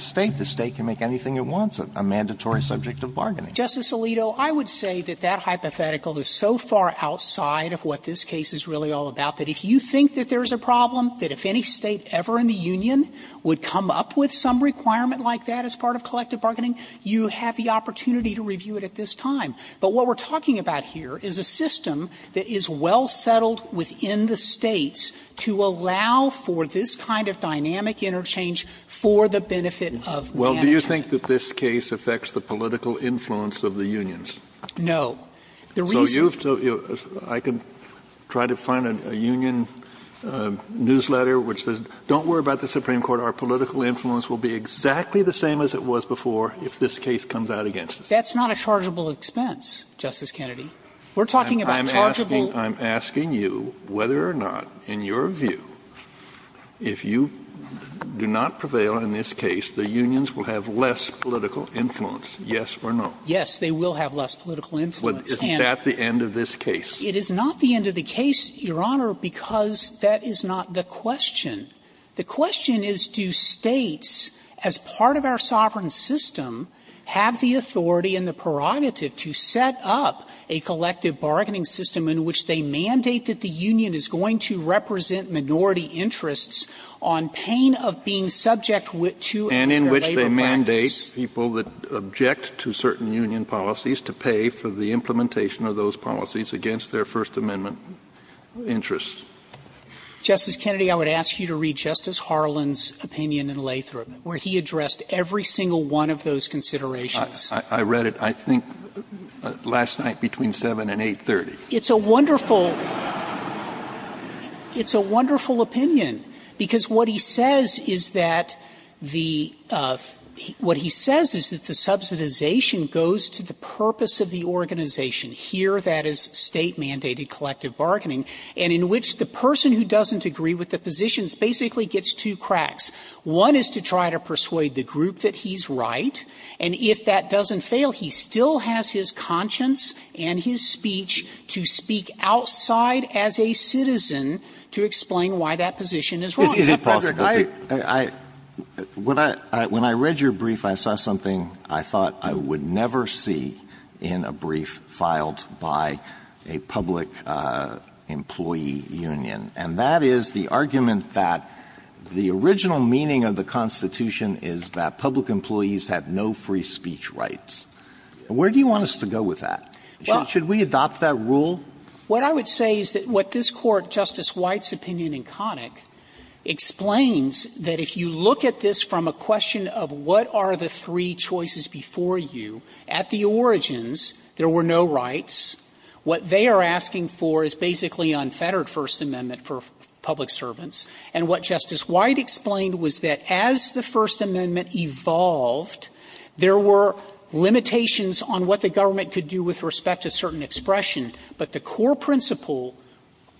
State, the State can make anything it wants, a mandatory subject of bargaining. Justice Alito, I would say that that hypothetical is so far outside of what this case is really all about, that if you think that there's a problem, that if any State ever in the union would come up with some requirement like that as part of collective bargaining, you have the opportunity to review it at this time. But what we're talking about here is a system that is well settled within the States to allow for this kind of dynamic interchange for the benefit of management. Kennedy I don't think that this case affects the political influence of the unions. Sotomayor No. The reason why you have to do it is I can try to find a union newsletter which says don't worry about the Supreme Court, our political influence will be exactly the same as it was before if this case comes out against us. Sotomayor That's not a chargeable expense, Justice Kennedy. We're talking about chargeable. Kennedy I'm asking you whether or not, in your view, if you do not prevail in this case, you will have less political influence, yes or no? Sotomayor Yes, they will have less political influence. Kennedy Isn't that the end of this case? Sotomayor It is not the end of the case, Your Honor, because that is not the question. The question is, do States, as part of our sovereign system, have the authority and the prerogative to set up a collective bargaining system in which they mandate that the union is going to represent minority interests on pain of being subject to a labor practice. Kennedy I would mandate people that object to certain union policies to pay for the implementation of those policies against their First Amendment interests. Sotomayor Justice Kennedy, I would ask you to read Justice Harlan's opinion in Lathrop, where he addressed every single one of those considerations. Kennedy I read it, I think, last night between 7 and 8.30. Sotomayor It's a wonderful opinion, because what he says is that the union is going to represent minority interests on pain of being subject to a labor practice. And what he says is that the subsidization goes to the purpose of the organization, here that is State-mandated collective bargaining, and in which the person who doesn't agree with the positions basically gets two cracks. One is to try to persuade the group that he's right, and if that doesn't fail, he still has his conscience and his speech to speak outside as a citizen to explain why that position is wrong. Alito Is it possible to? Alito When I read your brief, I saw something I thought I would never see in a brief filed by a public employee union, and that is the argument that the original meaning of the Constitution is that public employees have no free speech rights. Where do you want us to go with that? Should we adopt that rule? Frederick What I would say is that what this Court, Justice White's opinion in Connick, explains that if you look at this from a question of what are the three choices before you, at the origins there were no rights. What they are asking for is basically unfettered First Amendment for public servants. And what Justice White explained was that as the First Amendment evolved, there were limitations on what the government could do with respect to certain expression, but the core principle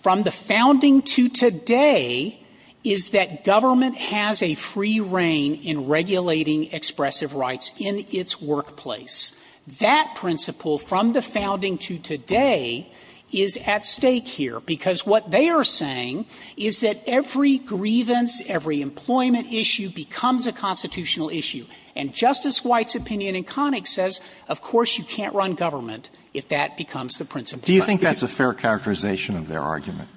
from the founding to today is that government has a free reign in regulating expressive rights in its workplace. That principle from the founding to today is at stake here, because what they are saying is that every grievance, every employment issue becomes a constitutional issue. And Justice White's opinion in Connick says, of course, you can't run government if that becomes the principle. Alito Do you think that's a fair characterization of their argument? Frederick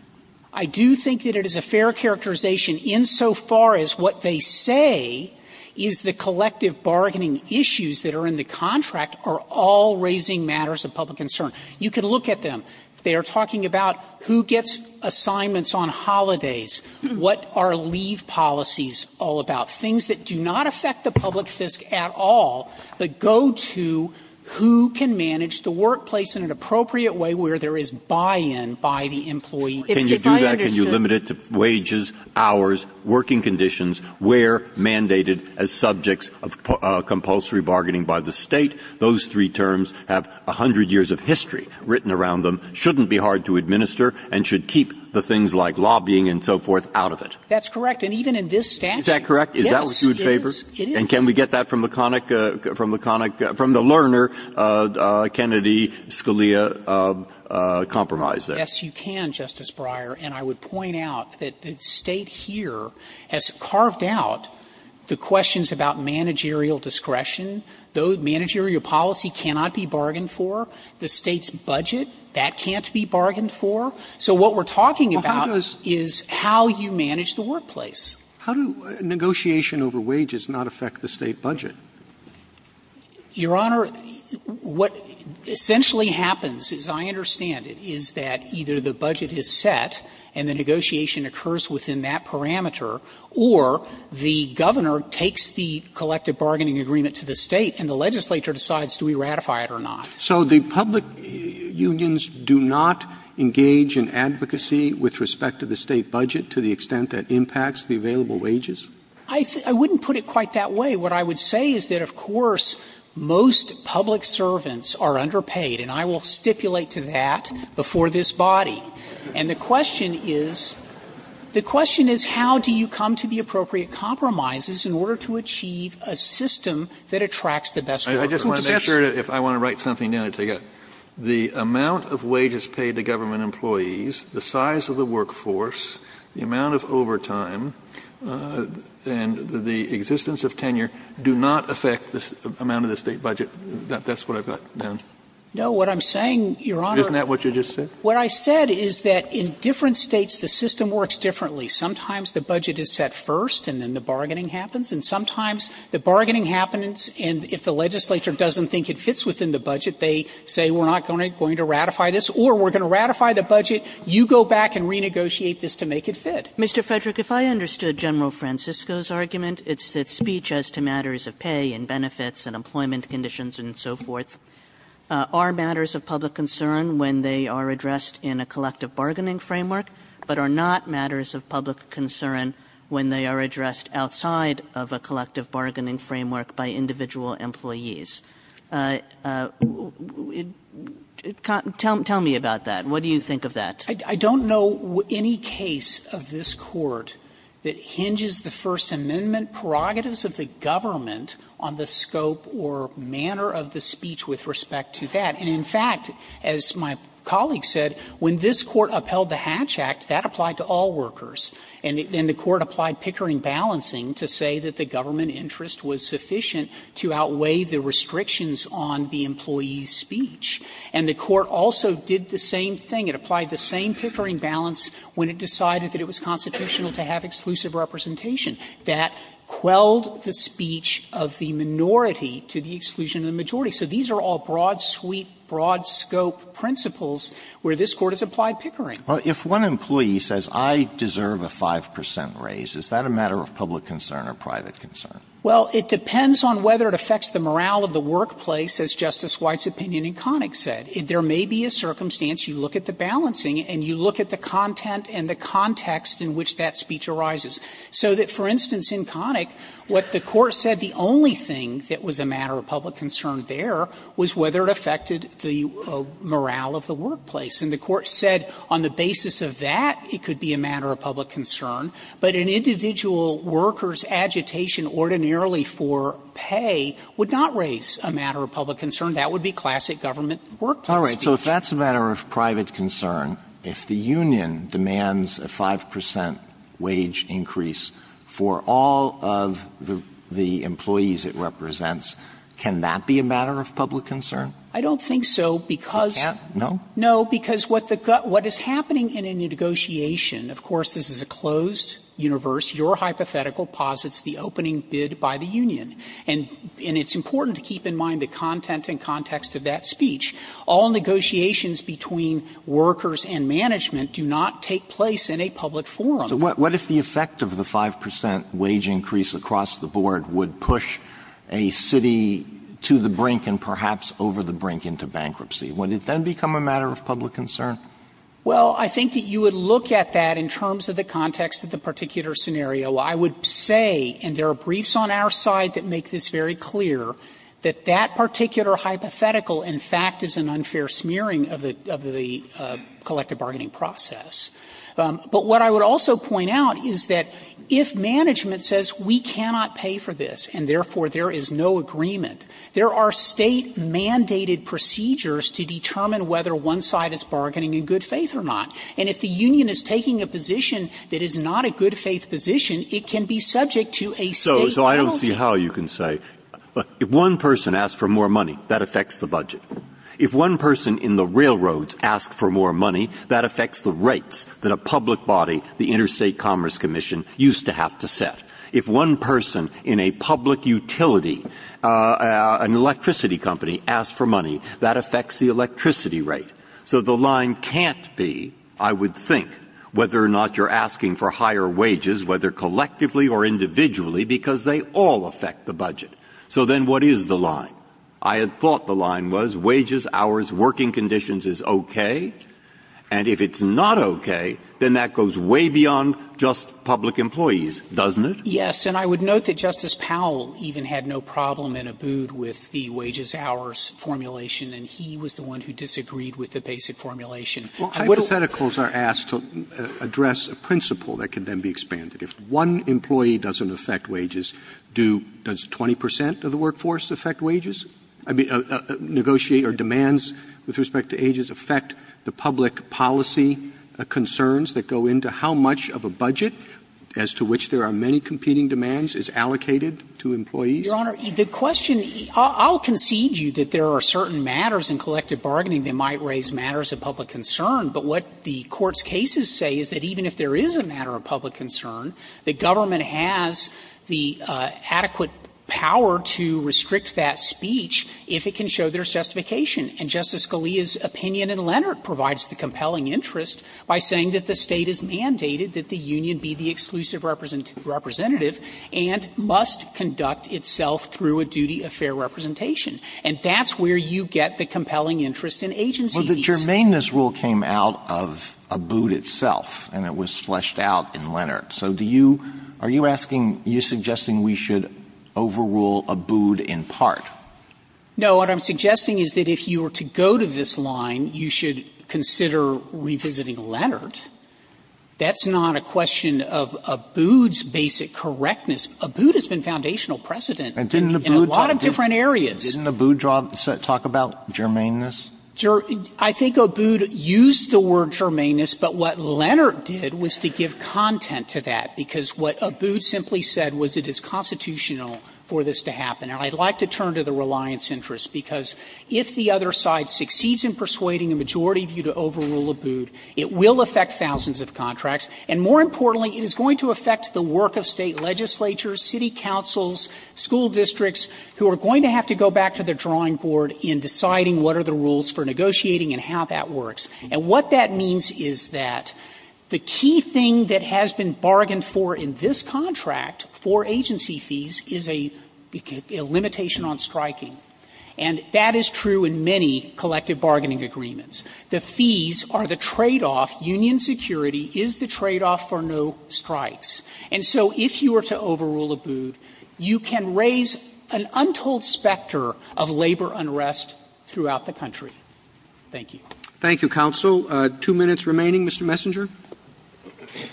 I do think that it is a fair characterization insofar as what they say is the collective bargaining issues that are in the contract are all raising matters of public concern. You can look at them. They are talking about who gets assignments on holidays, what are leave policies all about, things that do not affect the public fisc at all, but go to who can manage the workplace in an appropriate way where there is buy-in by the employee. Breyer Can you do that, can you limit it to wages, hours, working conditions, where mandated as subjects of compulsory bargaining by the State? Those three terms have 100 years of history written around them, shouldn't be hard to administer, and should keep the things like lobbying and so forth out of it. Frederick That's correct. And even in this statute. Breyer Is that correct? Is that what you would favor? Frederick Yes, it is. Breyer And can we get that from the conic – from the learner, Kennedy-Scalia compromise there? Frederick Yes, you can, Justice Breyer. And I would point out that the State here has carved out the questions about managerial discretion, though managerial policy cannot be bargained for, the State's budget, that can't be bargained for. So what we're talking about is how you manage the workplace. Roberts How do negotiation over wages not affect the State budget? Frederick Your Honor, what essentially happens, as I understand it, is that either the budget is set and the negotiation occurs within that parameter, or the governor takes the collective bargaining agreement to the State and the legislature decides do we ratify it or not. Roberts So the public unions do not engage in advocacy with respect to the State budget to the extent that impacts the available wages? Frederick I wouldn't put it quite that way. What I would say is that, of course, most public servants are underpaid, and I will stipulate to that before this body. And the question is, the question is how do you come to the appropriate compromises in order to achieve a system that attracts the best workers? Kennedy I just want to make sure, if I want to write something down, I'll take it. The amount of wages paid to government employees, the size of the workforce, the amount of overtime, and the existence of tenure do not affect the amount of the State budget. That's what I've got down. Frederick No. What I'm saying, Your Honor. Kennedy Isn't that what you just said? Frederick What I said is that in different States the system works differently. Sometimes the budget is set first and then the bargaining happens, and sometimes the bargaining happens, and if the legislature doesn't think it fits within the budget, they say we're not going to ratify this, or we're going to ratify the budget, you go back and renegotiate this to make it fit. Kagan Mr. Frederick, if I understood General Francisco's argument, it's that speech as to matters of pay and benefits and employment conditions and so forth are matters of public concern when they are addressed in a collective bargaining framework, but are not matters of public concern when they are addressed outside of a collective bargaining framework by individual employees. Tell me about that. What do you think of that? Frederick I don't know any case of this Court that hinges the First Amendment prerogatives of the government on the scope or manner of the speech with respect to that. And in fact, as my colleague said, when this Court upheld the Hatch Act, that applied to all workers, and the Court applied Pickering balancing to say that the government interest was sufficient to outweigh the restrictions on the employee's speech. And the Court also did the same thing. It applied the same Pickering balance when it decided that it was constitutional to have exclusive representation. That quelled the speech of the minority to the exclusion of the majority. So these are all broad sweep, broad scope principles where this Court has applied Pickering. Alito If one employee says I deserve a 5 percent raise, is that a matter of public concern or private concern? Well, it depends on whether it affects the morale of the workplace, as Justice White's opinion in Connick said. There may be a circumstance, you look at the balancing and you look at the content and the context in which that speech arises. So that, for instance, in Connick, what the Court said, the only thing that was a matter of public concern there was whether it affected the morale of the workplace. And the Court said on the basis of that, it could be a matter of public concern. But an individual worker's agitation ordinarily for pay would not raise a matter of public concern. That would be classic government workplace speech. All right. So if that's a matter of private concern, if the union demands a 5 percent wage increase for all of the employees it represents, can that be a matter of public concern? I don't think so, because no. Because what is happening in a negotiation, of course, this is a closed negotiation in a closed universe. Your hypothetical posits the opening bid by the union. And it's important to keep in mind the content and context of that speech. All negotiations between workers and management do not take place in a public forum. Alito So what if the effect of the 5 percent wage increase across the board would push a city to the brink and perhaps over the brink into bankruptcy? Would it then become a matter of public concern? Well, I think that you would look at that in terms of the context of the particular scenario. I would say, and there are briefs on our side that make this very clear, that that particular hypothetical, in fact, is an unfair smearing of the collective bargaining process. But what I would also point out is that if management says we cannot pay for this and, therefore, there is no agreement, there are State-mandated procedures to determine whether one side is bargaining in good faith or not. And if the union is taking a position that is not a good faith position, it can be subject to a State penalty. Breyer So I don't see how you can say, if one person asks for more money, that affects the budget. If one person in the railroads asks for more money, that affects the rates that a public body, the Interstate Commerce Commission, used to have to set. If one person in a public utility, an electricity company, asks for money, that affects the electricity rate. So the line can't be, I would think, whether or not you're asking for higher wages, whether collectively or individually, because they all affect the budget. So then what is the line? I had thought the line was wages, hours, working conditions is okay, and if it's not okay, then that goes way beyond just public employees, doesn't it? Frederick. And I would note that Justice Powell even had no problem in a boot with the wages hours formulation, and he was the one who disagreed with the basic formulation. Roberts Hypotheticals are asked to address a principle that can then be expanded. If one employee doesn't affect wages, do 20 percent of the workforce affect wages? I mean, negotiate or demands with respect to ages affect the public policy concerns that go into how much of a budget, as to which there are many competing demands, is allocated to employees? Frederick Your Honor, the question – I'll concede to you that there are certain matters in collective bargaining that might raise matters of public concern, but what the Court's cases say is that even if there is a matter of public concern, the government has the adequate power to restrict that speech if it can show there's justification. And Justice Scalia's opinion in Leonard provides the compelling interest by saying that the State is mandated that the union be the exclusive representative and must conduct itself through a duty of fair representation. And that's where you get the compelling interest in agency fees. Alito Well, the germaneness rule came out of Abood itself, and it was fleshed out in Leonard. So do you – are you asking – you're suggesting we should overrule Abood in part? Frederick No. What I'm suggesting is that if you were to go to this line, you should consider revisiting Leonard. That's not a question of Abood's basic correctness. Abood has been foundational precedent in a lot of different areas. Alito And didn't Abood talk about germaneness? Frederick I think Abood used the word germaneness, but what Leonard did was to give content to that, because what Abood simply said was it is constitutional for this to happen. And I'd like to turn to the reliance interest, because if the other side succeeds in persuading a majority view to overrule Abood, it will affect thousands of contracts. And more importantly, it is going to affect the work of State legislatures, city councils, school districts, who are going to have to go back to their drawing board in deciding what are the rules for negotiating and how that works. And what that means is that the key thing that has been bargained for in this contract for agency fees is a limitation on striking. And that is true in many collective bargaining agreements. The fees are the tradeoff. Union security is the tradeoff for no strikes. And so if you were to overrule Abood, you can raise an untold specter of labor unrest throughout the country. Thank you. Roberts Thank you, counsel. Two minutes remaining, Mr. Messenger. Messenger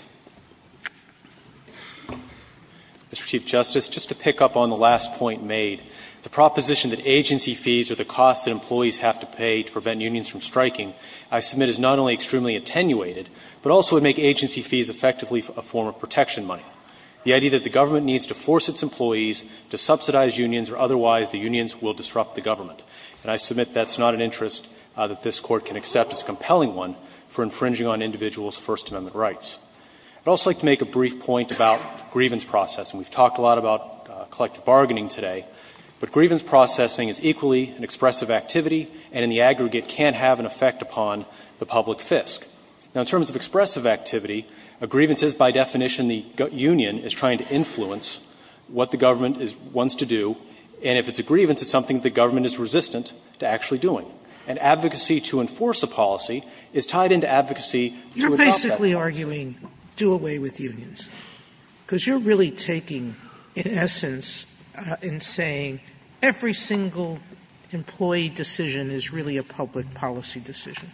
Mr. Chief Justice, just to pick up on the last point made, the proposition that agency fees are the cost that employees have to pay to prevent unions from striking, I submit, is not only extremely attenuated, but also would make agency fees effectively a form of protection money. The idea that the government needs to force its employees to subsidize unions or otherwise the unions will disrupt the government. And I submit that's not an interest that this Court can accept as a compelling one for infringing on individuals' First Amendment rights. I'd also like to make a brief point about grievance processing. We've talked a lot about collective bargaining today. But grievance processing is equally an expressive activity and in the aggregate can't have an effect upon the public fisc. Now, in terms of expressive activity, a grievance is by definition the union is trying to influence what the government wants to do, and if it's a grievance, it's something the government is resistant to actually doing. And advocacy to enforce a policy is tied into advocacy to adopt that policy. Sotomayor, you're really arguing do away with unions, because you're really taking, in essence, in saying every single employee decision is really a public policy decision.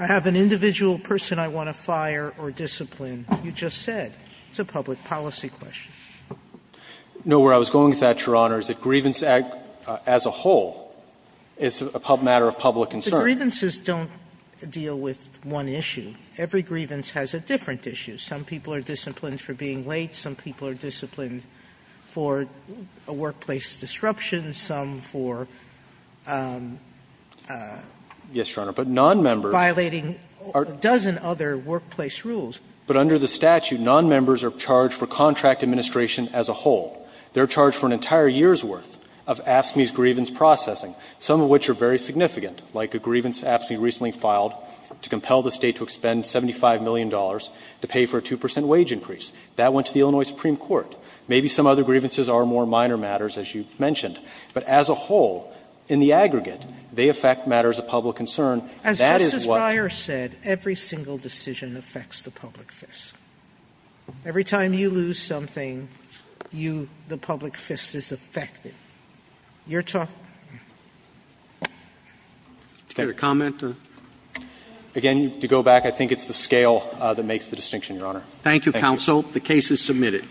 I have an individual person I want to fire or discipline. You just said it's a public policy question. No, where I was going with that, Your Honor, is that grievance as a whole is a matter of public concern. The grievances don't deal with one issue. Every grievance has a different issue. Some people are disciplined for being late. Some people are disciplined for a workplace disruption. Some for violating a dozen other workplace rules. Yes, Your Honor, but nonmembers are charged for contract administration as a whole. They're charged for an entire year's worth of AFSCME's grievance processing, some of which are very significant, like a grievance AFSCME recently filed to compel the State to expend $75 million to pay for a 2 percent wage increase. That went to the Illinois Supreme Court. Maybe some other grievances are more minor matters, as you mentioned. But as a whole, in the aggregate, they affect matters of public concern. That is what you're talking about. Sotomayor, as Justice Breyer said, every single decision affects the public fist. Every time you lose something, you, the public fist is affected. You're talking about the public fist. Roberts. Do you have a comment? Again, to go back, I think it's the scale that makes the distinction, Your Honor. Thank you, counsel. The case is submitted.